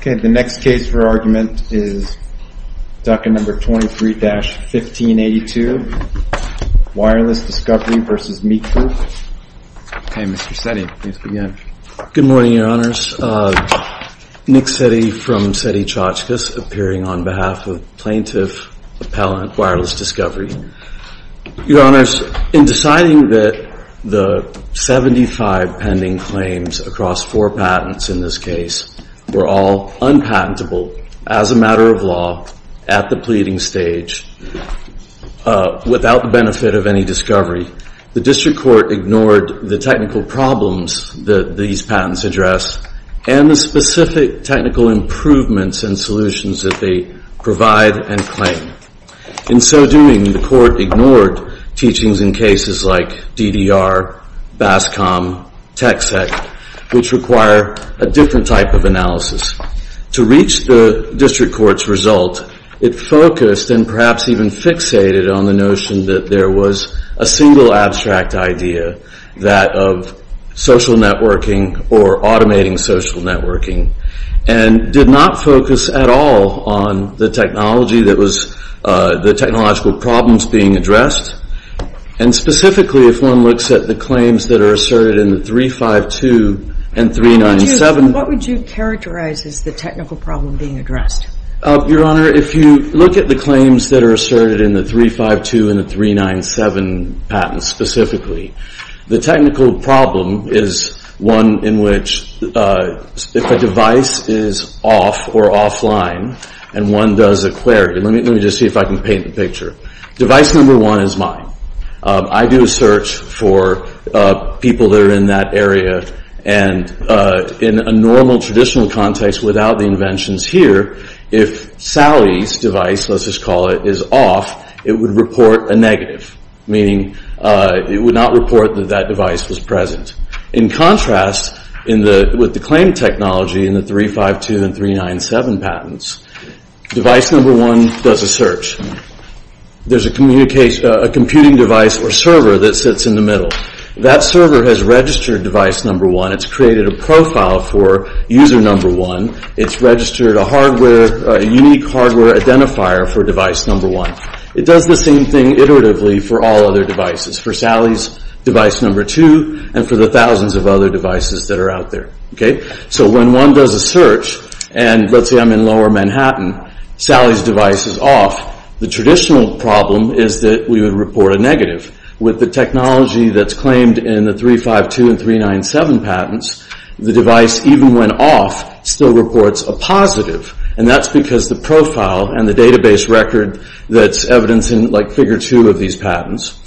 The next case for argument is DUCA No. 23-1582, Wireless Discovery v. Meet Group. Mr. Setti, please begin. Good morning, Your Honors. Nick Setti from Setti Chachkas, appearing on behalf of Plaintiff Appellant Wireless Discovery. Your Honors, in deciding that the 75 pending claims across four patents in this case were all unpatentable as a matter of law at the pleading stage without the benefit of any discovery, the District Court ignored the technical problems that these patents address and the specific technical improvements and solutions that they provide and claim. In so doing, the Court ignored teachings in cases like DDR, BASCOM, TXEC, which require a different type of analysis. To reach the District Court's result, it focused and perhaps even fixated on the notion that there was a single abstract idea, that of social networking or automating social networking, and did not focus at all on the technology that was, the technological problems being addressed. And specifically, if one looks at the claims that are asserted in the 352 and 397. What would you characterize as the technical problem being addressed? Your Honor, if you look at the claims that are asserted in the 352 and the 397 patents specifically, the technical problem is one in which if a device is off or offline and one does a query. Let me just see if I can paint the picture. Device number one is mine. I do a search for people that are in that area and in a normal traditional context without the inventions here, if Sally's device, let's just call it, is off, it would report a negative, meaning it would not report that that device was present. In contrast, with the claim technology in the 352 and 397 patents, device number one does a search. There's a computing device or server that sits in the middle. That server has registered device number one. It's created a profile for user number one. It's registered a unique hardware identifier for device number one. It does the same thing iteratively for all other devices, for Sally's device number two, and for the thousands of other devices that are out there. When one does a search, and let's say I'm in lower Manhattan, Sally's device is off. The traditional problem is that we would report a negative. With the technology that's claimed in the 352 and 397 patents, the device, even when off, still reports a positive, and that's because the profile and the database record that's evidenced in figure two of these patents,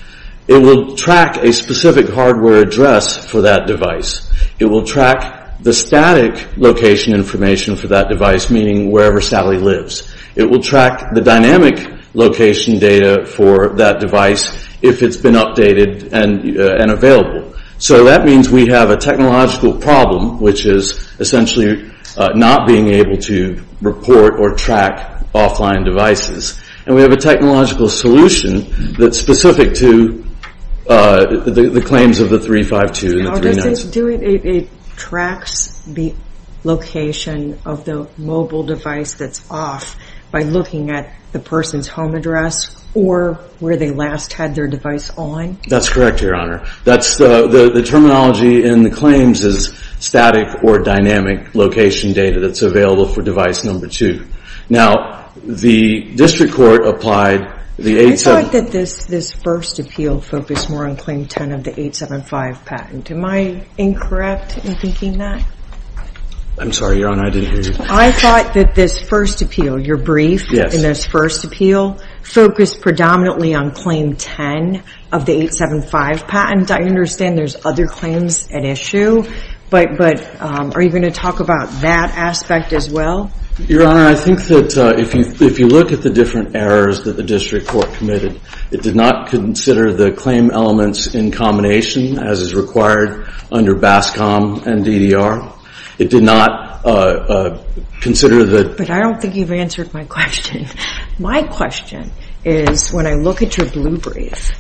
it will track a specific hardware address for that device. It will track the static location information for that device, meaning wherever Sally lives. It will track the dynamic location data for that device if it's been updated and available. So that means we have a technological problem, which is essentially not being able to report or track offline devices, and we have a technological solution that's specific to the claims of the 352 and the 397. Does this do it? It tracks the location of the mobile device that's off by looking at the person's home address or where they last had their device on? That's correct, Your Honor. The terminology in the claims is static or dynamic location data that's available for device number two. Now, the district court applied the 875. I'm sorry, Your Honor. I didn't hear you. I thought that this first appeal, your brief in this first appeal, focused predominantly on claim 10 of the 875 patent. I understand there's other claims at issue, but are you going to talk about that aspect as well? Your Honor, I think that if you look at the different errors that the district court committed, it did not consider the claim elements in combination as is required under BASCOM and DDR. It did not consider the- But I don't think you've answered my question. My question is when I look at your blue brief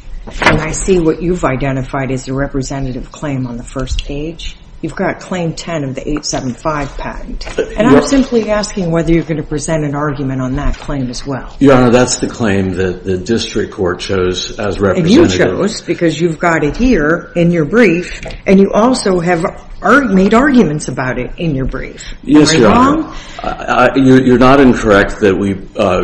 and I see what you've identified as a representative claim on the first page, you've got claim 10 of the 875 patent, and I'm simply asking whether you're going to present an argument on that claim as well. Your Honor, that's the claim that the district court chose as representative. And you chose because you've got it here in your brief, and you also have made arguments about it in your brief. Yes, Your Honor. Are you wrong? You're not incorrect that we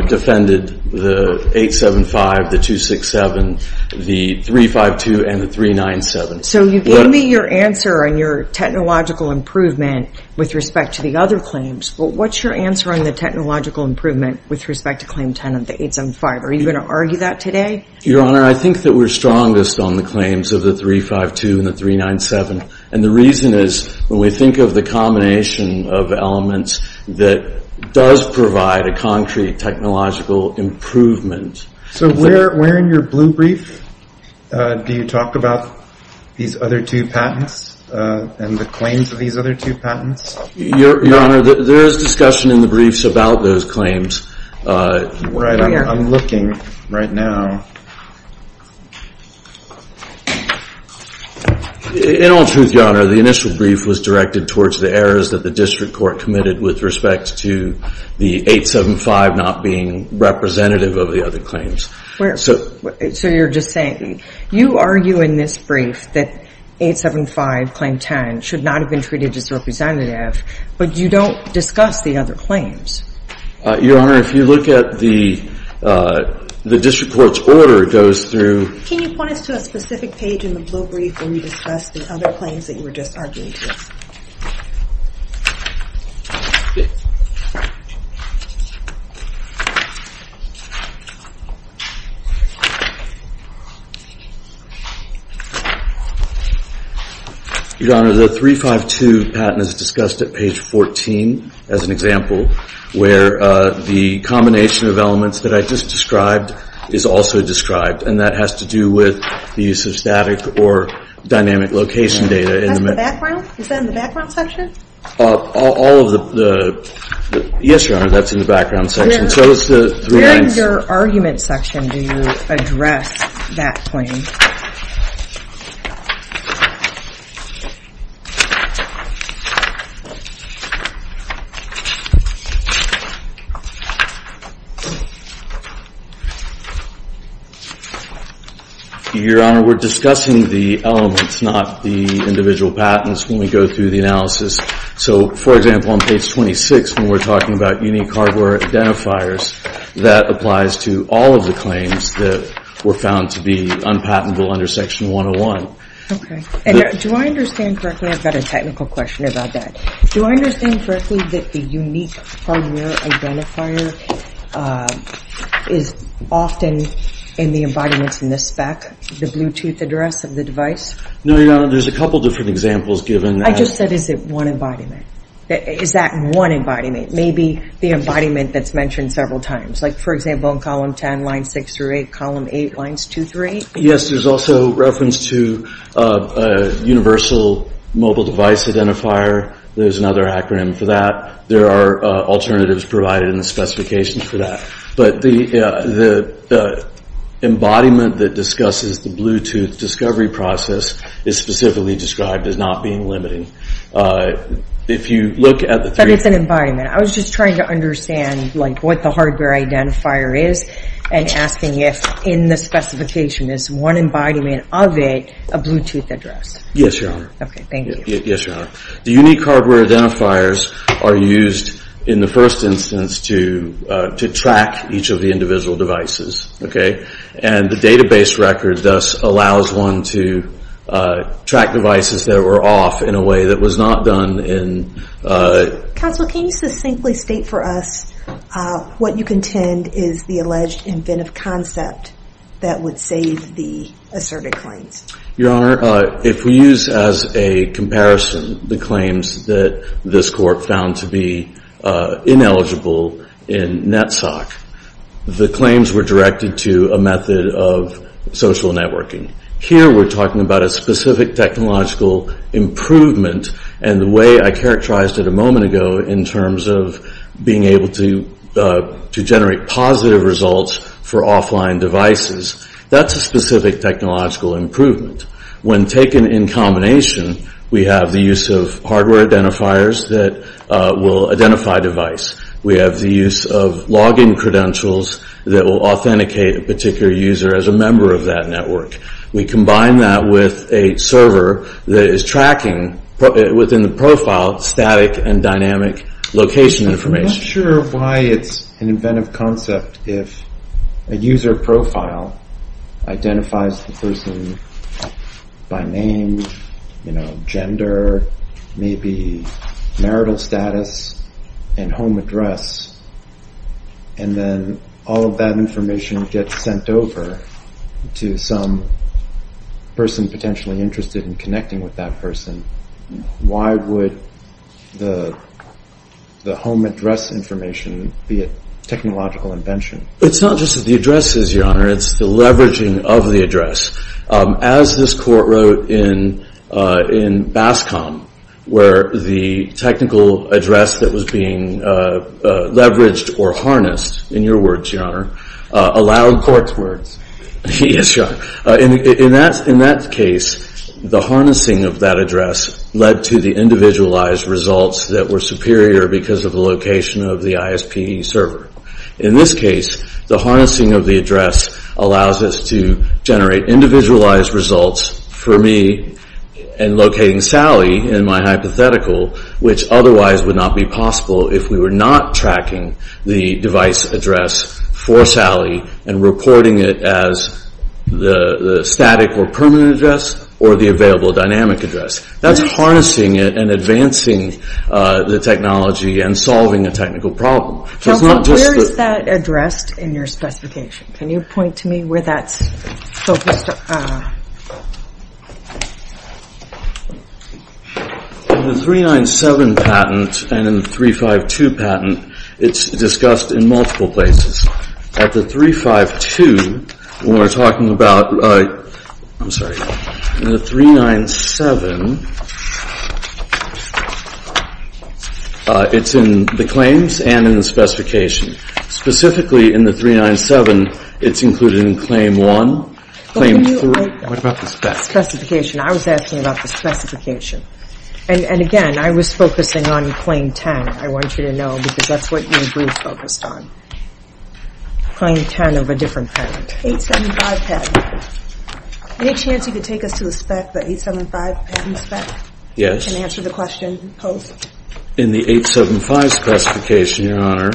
defended the 875, the 267, the 352, and the 397. So you gave me your answer on your technological improvement with respect to the other claims, but what's your answer on the technological improvement with respect to claim 10 of the 875? Are you going to argue that today? Your Honor, I think that we're strongest on the claims of the 352 and the 397, and the reason is when we think of the combination of elements that does provide a concrete technological improvement- So where in your blue brief do you talk about these other two patents and the claims of these other two patents? Your Honor, there is discussion in the briefs about those claims. I'm looking right now. In all truth, Your Honor, the initial brief was directed towards the errors that the district court committed with respect to the 875 not being representative of the other claims. So you're just saying you argue in this brief that 875, claim 10, should not have been treated as representative, but you don't discuss the other claims. Your Honor, if you look at the district court's order, it goes through- Can you point us to a specific page in the blue brief where you discuss the other claims that you were just arguing to? Your Honor, the 352 patent is discussed at page 14 as an example, where the combination of elements that I just described is also described, and that has to do with the use of static or dynamic location data. Is that in the background section? Yes, Your Honor, that's in the background section. Where in your argument section do you address that claim? Your Honor, we're discussing the elements, not the individual patents, when we go through the analysis. So, for example, on page 26, when we're talking about unique hardware identifiers, that applies to all of the claims that were found to be unpatentable under section 101. And do I understand correctly, I've got a technical question about that, do I understand correctly that the unique hardware identifier is often in the embodiments in this spec, the Bluetooth address of the device? No, Your Honor, there's a couple different examples given that- I just said is it one embodiment. Is that one embodiment? Maybe the embodiment that's mentioned several times. Like, for example, in column 10, line 6 through 8, column 8, lines 2 through 8? Yes, there's also reference to a universal mobile device identifier. There's another acronym for that. There are alternatives provided in the specifications for that. But the embodiment that discusses the Bluetooth discovery process is specifically described as not being limiting. If you look at the three- But it's an embodiment. I was just trying to understand, like, what the hardware identifier is and asking if in the specification is one embodiment of it a Bluetooth address. Yes, Your Honor. Okay, thank you. Yes, Your Honor. The unique hardware identifiers are used in the first instance to track each of the individual devices, okay? And the database record thus allows one to track devices that were off in a way that was not done in- Counsel, can you succinctly state for us what you contend is the alleged inventive concept that would save the asserted claims? Your Honor, if we use as a comparison the claims that this court found to be ineligible in NETSOC, the claims were directed to a method of social networking. Here we're talking about a specific technological improvement and the way I characterized it a moment ago in terms of being able to generate positive results for offline devices. That's a specific technological improvement. When taken in combination, we have the use of hardware identifiers that will identify device. We have the use of login credentials that will authenticate a particular user as a member of that network. We combine that with a server that is tracking within the profile static and dynamic location information. I'm not sure why it's an inventive concept if a user profile identifies the person by name, gender, maybe marital status and home address, and then all of that information gets sent over to some person potentially interested in connecting with that person. Why would the home address information be a technological invention? It's not just the addresses, Your Honor. It's the leveraging of the address. As this court wrote in BASCOM, where the technical address that was being leveraged or harnessed, in your words, Your Honor, allowed court's words. Yes, Your Honor. In that case, the harnessing of that address led to the individualized results that were superior because of the location of the ISP server. In this case, the harnessing of the address allows us to generate individualized results for me and locating Sally in my hypothetical, which otherwise would not be possible if we were not tracking the device address for Sally and reporting it as the static or permanent address or the available dynamic address. That's harnessing it and advancing the technology and solving a technical problem. Where is that addressed in your specification? Can you point to me where that's focused? In the 397 patent and in the 352 patent, it's discussed in multiple places. At the 352, when we're talking about the 397, it's in the claims and in the specification. Specifically, in the 397, it's included in Claim 1, Claim 3. What about the specification? I was asking about the specification. And again, I was focusing on Claim 10. I want you to know because that's what your brief focused on. Claim 10 of a different patent. 875 patent. Any chance you could take us to the spec, the 875 patent spec? Yes. You can answer the question posed. In the 875 specification, Your Honor.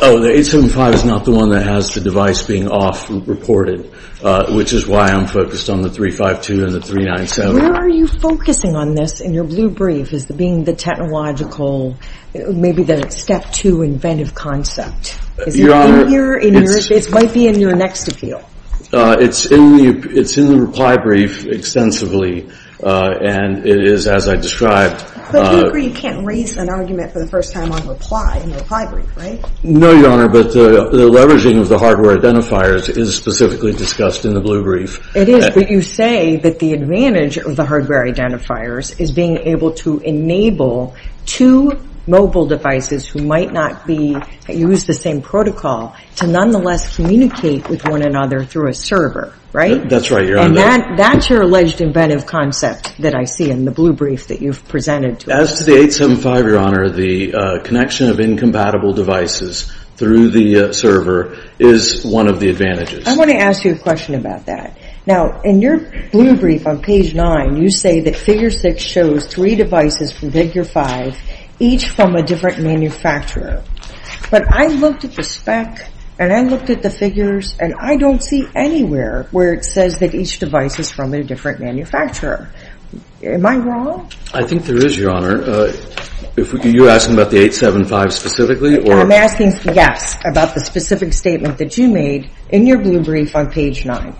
Oh, the 875 is not the one that has the device being off reported, which is why I'm focused on the 352 and the 397. Where are you focusing on this in your blue brief? Is it being the technological, maybe the step two inventive concept? Your Honor. It might be in your next appeal. It's in the reply brief extensively. And it is, as I described. But you agree you can't raise an argument for the first time on reply in the reply brief, right? No, Your Honor. But the leveraging of the hardware identifiers is specifically discussed in the blue brief. It is. But you say that the advantage of the hardware identifiers is being able to enable two mobile devices who might not use the same protocol to nonetheless communicate with one another through a server, right? That's right, Your Honor. And that's your alleged inventive concept that I see in the blue brief that you've presented to us. As to the 875, Your Honor, the connection of incompatible devices through the server is one of the advantages. I want to ask you a question about that. Now, in your blue brief on page 9, you say that figure 6 shows three devices from figure 5, each from a different manufacturer. But I looked at the spec, and I looked at the figures, and I don't see anywhere where it says that each device is from a different manufacturer. Am I wrong? I think there is, Your Honor. You're asking about the 875 specifically? I'm asking, yes, about the specific statement that you made in your blue brief on page 9.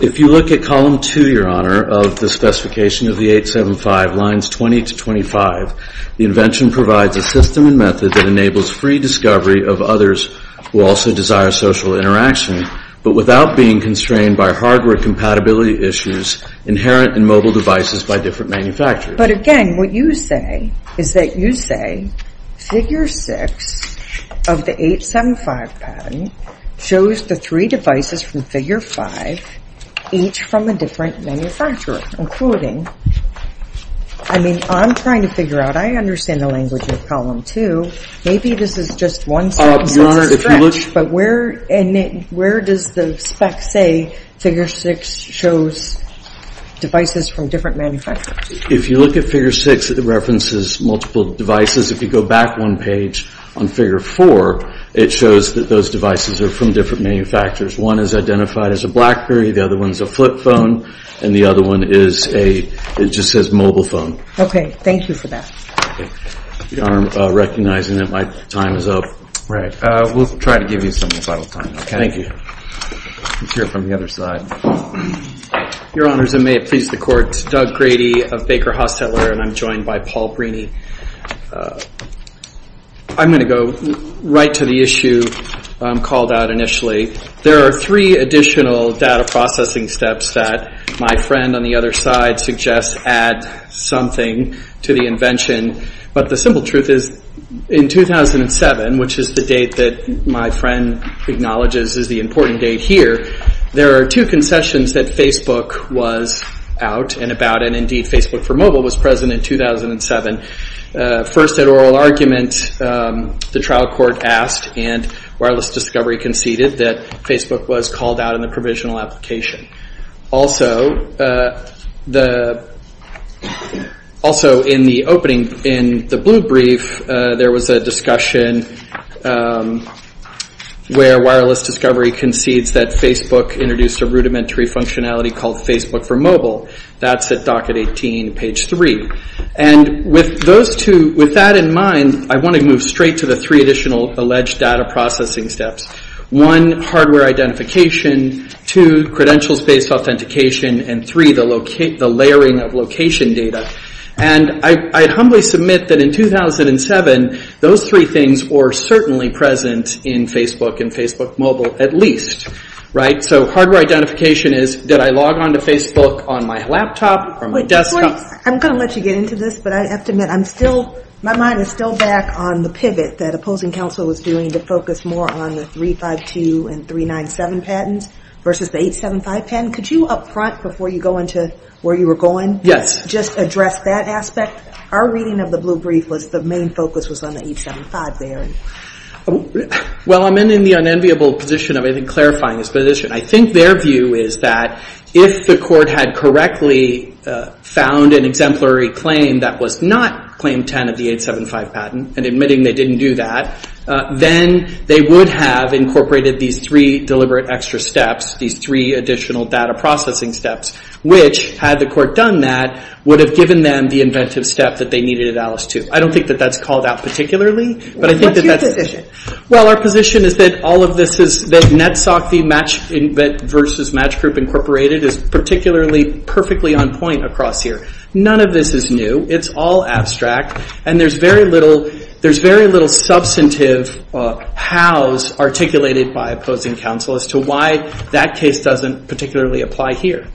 If you look at column 2, Your Honor, of the specification of the 875, lines 20 to 25, the invention provides a system and method that enables free discovery of others who also desire social interaction but without being constrained by hardware compatibility issues inherent in mobile devices by different manufacturers. But again, what you say is that you say figure 6 of the 875 pattern shows the three devices from figure 5, each from a different manufacturer, including, I mean, I'm trying to figure out. I understand the language of column 2. Maybe this is just one sentence. But where does the spec say figure 6 shows devices from different manufacturers? If you look at figure 6, it references multiple devices. If you go back one page on figure 4, it shows that those devices are from different manufacturers. One is identified as a BlackBerry. The other one is a flip phone. And the other one is a – it just says mobile phone. Okay. Thank you for that. Your Honor, recognizing that my time is up. Right. We'll try to give you some final time, okay? Thank you. Let's hear it from the other side. Your Honors, and may it please the Court. Doug Grady of Baker Hostetler, and I'm joined by Paul Breeny. I'm going to go right to the issue called out initially. There are three additional data processing steps that my friend on the other side suggests add something to the invention. But the simple truth is in 2007, which is the date that my friend acknowledges is the important date here, there are two concessions that Facebook was out and about. And, indeed, Facebook for Mobile was present in 2007. First, at oral argument, the trial court asked and Wireless Discovery conceded that Facebook was called out in the provisional application. Also, in the opening, in the blue brief, there was a discussion where Wireless Discovery concedes that Facebook introduced a rudimentary functionality called Facebook for Mobile. That's at docket 18, page 3. And with that in mind, I want to move straight to the three additional alleged data processing steps. One, hardware identification. Two, credentials-based authentication. And three, the layering of location data. And I humbly submit that in 2007, those three things were certainly present in Facebook and Facebook Mobile, at least. Right? So hardware identification is, did I log onto Facebook on my laptop or my desktop? I'm going to let you get into this, but I have to admit, I'm still, my mind is still back on the pivot that opposing counsel was doing to focus more on the 352 and 397 patents versus the 875 patent. Could you, up front, before you go into where you were going, just address that aspect? Our reading of the blue brief was the main focus was on the 875 there. Well, I'm in the unenviable position of, I think, clarifying this position. I think their view is that if the court had correctly found an exemplary claim that was not claim 10 of the 875 patent, and admitting they didn't do that, then they would have incorporated these three deliberate extra steps, these three additional data processing steps, which, had the court done that, would have given them the inventive step that they needed at Alice to. I don't think that that's called out particularly. What's your position? Well, our position is that all of this is, that NETSOC versus Match Group Incorporated is particularly perfectly on point across here. None of this is new. It's all abstract. And there's very little substantive hows articulated by opposing counsel as to why that case doesn't particularly apply here.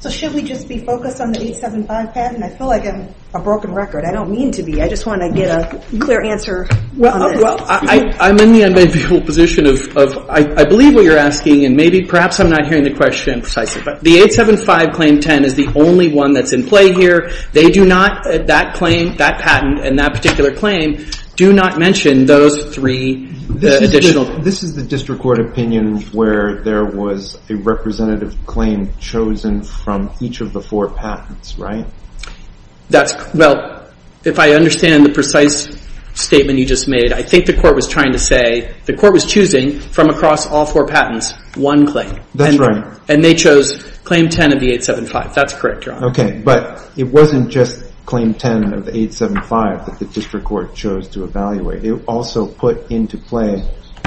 So should we just be focused on the 875 patent? I feel like I'm a broken record. I don't mean to be. I just want to get a clear answer on this. Well, I'm in the unbendable position of, I believe what you're asking, and maybe perhaps I'm not hearing the question precisely, but the 875 claim 10 is the only one that's in play here. They do not, that patent and that particular claim, do not mention those three additional. This is the district court opinion where there was a representative claim chosen from each of the four patents, right? That's, well, if I understand the precise statement you just made, I think the court was trying to say, the court was choosing from across all four patents one claim. That's right. And they chose claim 10 of the 875. That's correct, Your Honor. Okay, but it wasn't just claim 10 of the 875 that the district court chose to evaluate. It also put into play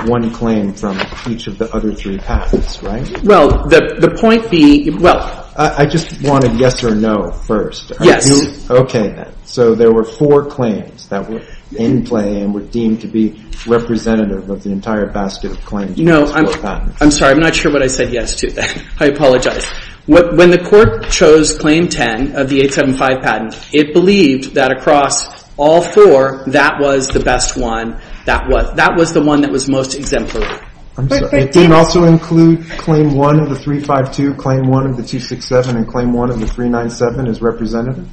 one claim from each of the other three patents, right? Well, the point being, well. I just want a yes or no first. Yes. Okay, then. So there were four claims that were in play and were deemed to be representative of the entire basket of claims. No, I'm sorry. I'm not sure what I said yes to there. I apologize. When the court chose claim 10 of the 875 patent, it believed that across all four, that was the best one. That was the one that was most exemplary. It didn't also include claim 1 of the 352, claim 1 of the 267, and claim 1 of the 397 as representative.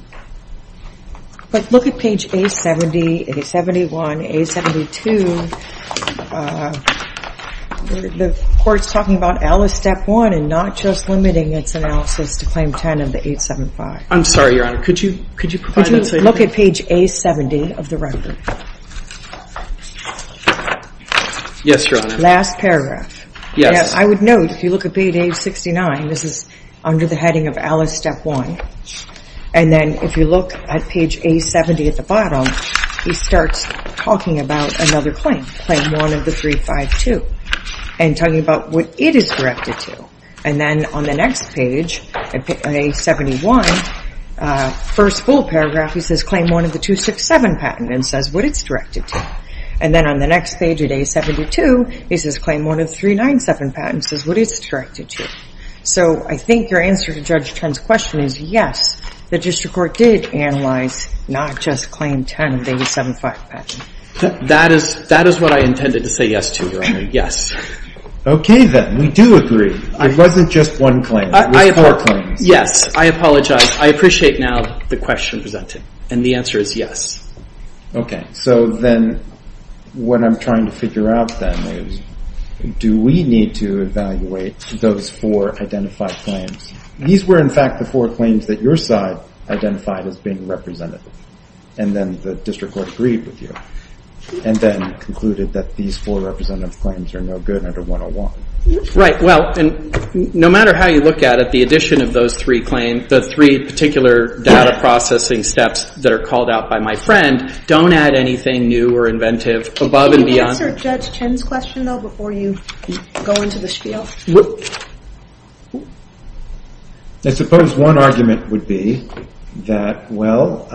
But look at page A70, A71, A72. The court's talking about L as step one and not just limiting its analysis to claim 10 of the 875. I'm sorry, Your Honor. Could you provide that to me? Could you look at page A70 of the record? Yes, Your Honor. Last paragraph. Yes. I would note, if you look at page A69, this is under the heading of L as step one. And then if you look at page A70 at the bottom, he starts talking about another claim, claim 1 of the 352, and talking about what it is directed to. And then on the next page, page 71, first full paragraph, he says claim 1 of the 267 patent and says what it's directed to. And then on the next page at A72, he says claim 1 of the 397 patent and says what it's directed to. So I think your answer to Judge Trent's question is yes, the district court did analyze not just claim 10 of the 875 patent. That is what I intended to say yes to, Your Honor. Yes. Okay, then. We do agree. It wasn't just one claim. It was four claims. Yes. I apologize. I appreciate now the question presented. And the answer is yes. So then what I'm trying to figure out then is do we need to evaluate those four identified claims? These were, in fact, the four claims that your side identified as being representative. And then the district court agreed with you and then concluded that these four representative claims are no good under 101. Right. Well, and no matter how you look at it, the addition of those three claims, the three particular data processing steps that are called out by my friend, don't add anything new or inventive above and beyond. Can you answer Judge Trent's question, though, before you go into the spiel? I suppose one argument would be that, well,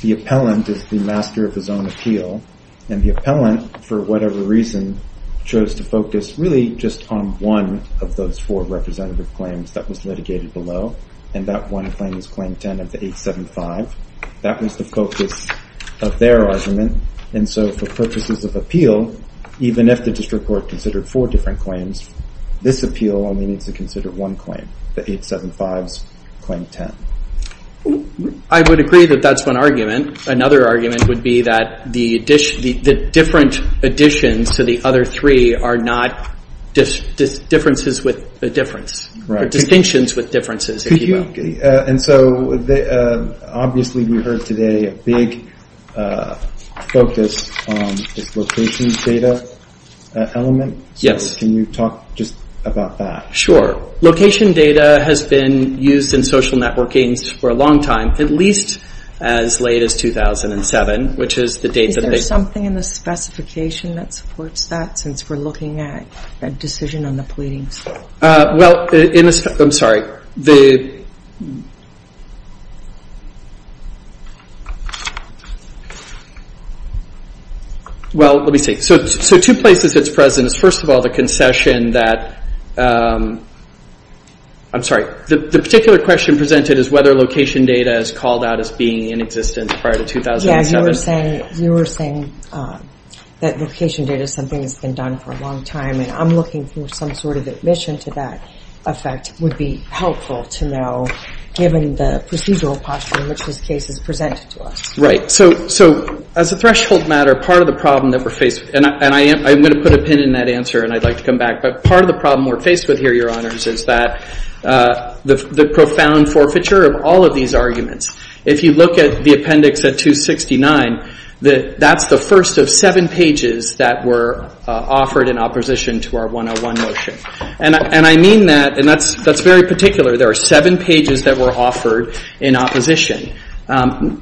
the appellant is the master of his own appeal. And the appellant, for whatever reason, chose to focus really just on one of those four representative claims that was litigated below. And that one claim is Claim 10 of the 875. That was the focus of their argument. And so for purposes of appeal, even if the district court considered four different claims, this appeal only needs to consider one claim, the 875's Claim 10. I would agree that that's one argument. Another argument would be that the different additions to the other three are not differences with a difference, or distinctions with differences, if you will. And so obviously we heard today a big focus on this location data element. Yes. So can you talk just about that? Sure. Location data has been used in social networking for a long time, at least as late as 2007, which is the date that they- Is there something in the specification that supports that, since we're looking at a decision on the pleadings? Well, I'm sorry. Well, let me see. So two places it's present is, first of all, the concession that- I'm sorry. The particular question presented is whether location data is called out as being in existence prior to 2007. Yeah, you were saying that location data is something that's been done for a long time. And I'm looking for some sort of admission to that effect would be helpful to know, given the procedural posture in which this case is presented to us. Right. So as a threshold matter, part of the problem that we're faced- And I'm going to put a pin in that answer, and I'd like to come back. But part of the problem we're faced with here, Your Honors, is that the profound forfeiture of all of these arguments. If you look at the appendix at 269, that's the first of seven pages that were offered in opposition to our 101 motion. And I mean that, and that's very particular. There are seven pages that were offered in opposition.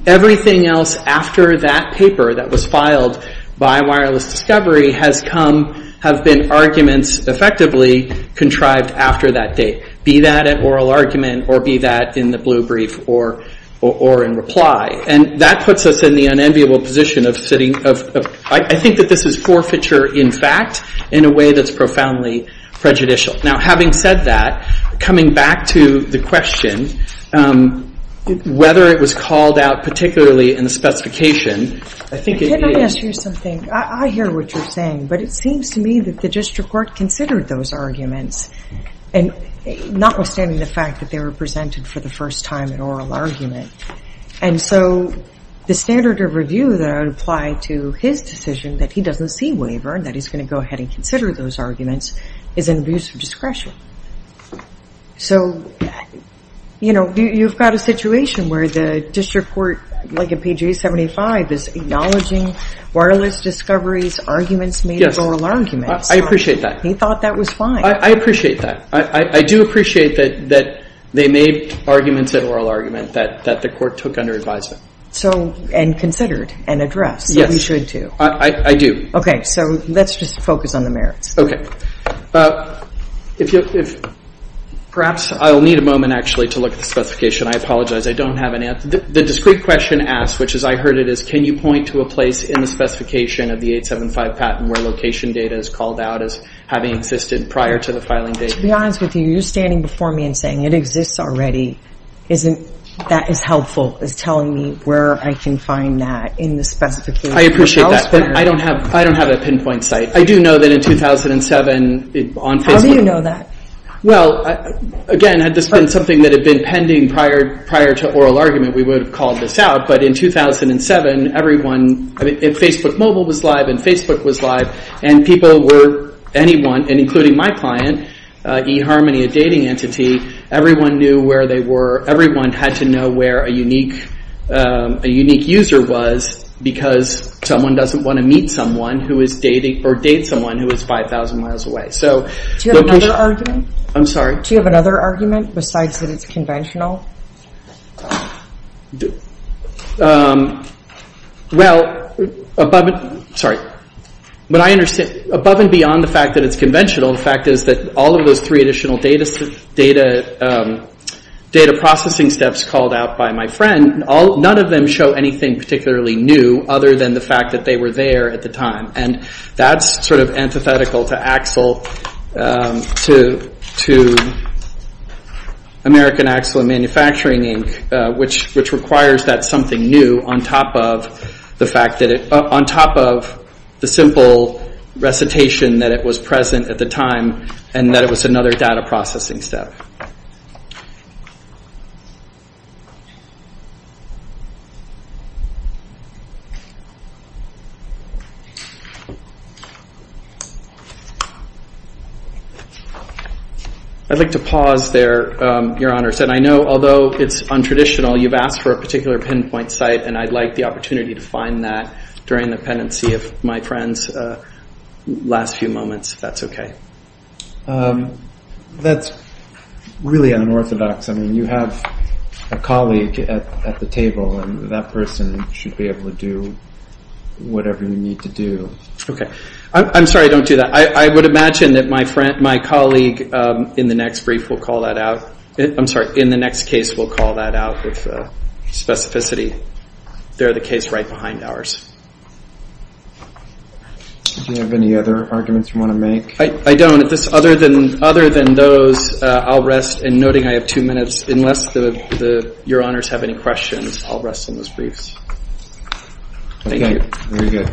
Everything else after that paper that was filed by Wireless Discovery has come- have been arguments effectively contrived after that date. Be that an oral argument, or be that in the blue brief, or in reply. And that puts us in the unenviable position of sitting- I think that this is forfeiture in fact, in a way that's profoundly prejudicial. Now having said that, coming back to the question, whether it was called out particularly in the specification, I think it is- Can I ask you something? I hear what you're saying, but it seems to me that the district court considered those arguments. And notwithstanding the fact that they were presented for the first time in oral argument. And so the standard of review that I would apply to his decision that he doesn't see waiver, and that he's going to go ahead and consider those arguments, is an abuse of discretion. So, you know, you've got a situation where the district court, like in page 875, is acknowledging Wireless Discovery's arguments made as oral arguments. Yes, I appreciate that. He thought that was fine. I appreciate that. I do appreciate that they made arguments an oral argument that the court took under advisement. So, and considered, and addressed. Yes. That we should do. I do. So let's just focus on the merits. Perhaps I'll need a moment actually to look at the specification. I apologize. I don't have an answer. The discrete question asked, which as I heard it, is can you point to a place in the specification of the 875 patent where location data is called out as having existed prior to the filing date? To be honest with you, you're standing before me and saying it exists already. Isn't that as helpful as telling me where I can find that in the specification? I appreciate that. But I don't have a pinpoint site. I do know that in 2007, on Facebook. How do you know that? Well, again, had this been something that had been pending prior to oral argument, we would have called this out. But in 2007, everyone, Facebook Mobile was live and Facebook was live, and people were, anyone, including my client, eHarmony, a dating entity, everyone knew where they were. Everyone had to know where a unique user was because someone doesn't want to meet someone or date someone who is 5,000 miles away. Do you have another argument? I'm sorry? Do you have another argument besides that it's conventional? Well, above and beyond the fact that it's conventional, the fact is that all of those three additional data processing steps called out by my friend, none of them show anything particularly new other than the fact that they were there at the time. And that's sort of antithetical to American Axel and Manufacturing Inc., which requires that something new on top of the fact that it, on top of the simple recitation that it was present at the time and that it was another data processing step. I'd like to pause there, Your Honors. And I know, although it's untraditional, you've asked for a particular pinpoint site, and I'd like the opportunity to find that during the pendency of my friend's last few moments, if that's okay. That's really unorthodox. I mean, you have a colleague at the table, and that person should be able to do whatever you need to do. Okay. I'm sorry I don't do that. I would imagine that my colleague in the next brief will call that out. I'm sorry, in the next case will call that out with specificity. They're the case right behind ours. Do you have any other arguments you want to make? I don't. Other than those, I'll rest. And noting I have two minutes, unless Your Honors have any questions, I'll rest on those briefs. Thank you. Very good.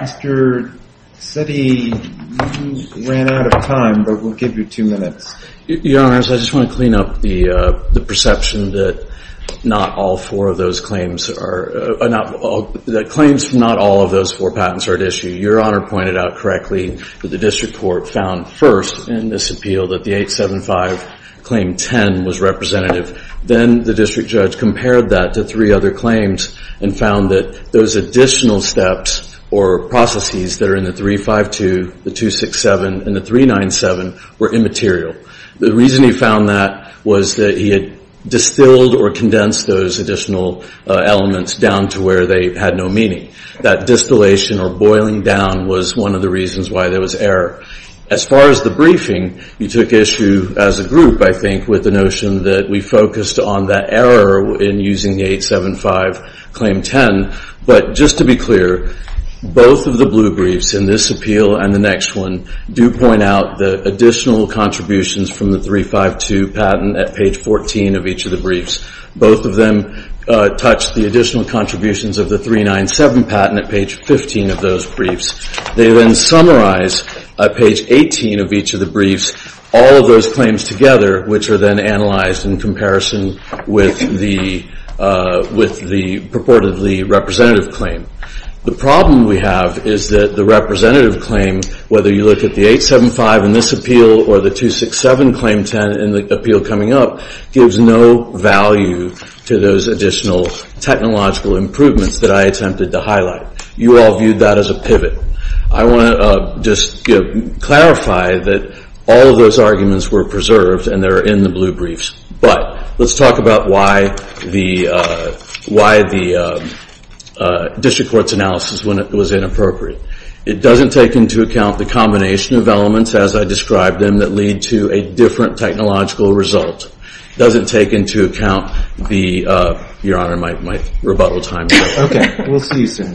Mr. Setti, you ran out of time, but we'll give you two minutes. Your Honors, I just want to clean up the perception that claims from not all of those four patents are at issue. Your Honor pointed out correctly that the district court found first in this appeal that the 875 Claim 10 was representative. Then the district judge compared that to three other claims and found that those additional steps or processes that are in the 352, the 267, and the 397 were immaterial. The reason he found that was that he had distilled or condensed those additional elements down to where they had no meaning. That distillation or boiling down was one of the reasons why there was error. As far as the briefing, you took issue as a group, I think, with the notion that we focused on that error in using the 875 Claim 10. But just to be clear, both of the blue briefs in this appeal and the next one do point out the additional contributions from the 352 patent at page 14 of each of the briefs. Both of them touch the additional contributions of the 397 patent at page 15 of those briefs. They then summarize at page 18 of each of the briefs all of those claims together, which are then analyzed in comparison with the purportedly representative claim. The problem we have is that the representative claim, whether you look at the 875 in this appeal or the 267 Claim 10 in the appeal coming up, gives no value to those additional technological improvements that I attempted to highlight. You all viewed that as a pivot. I want to just clarify that all of those arguments were preserved and they're in the blue briefs. But let's talk about why the district court's analysis was inappropriate. It doesn't take into account the combination of elements, as I described them, that lead to a different technological result. It doesn't take into account the, Your Honor, my rebuttal time. Okay. We'll see you soon.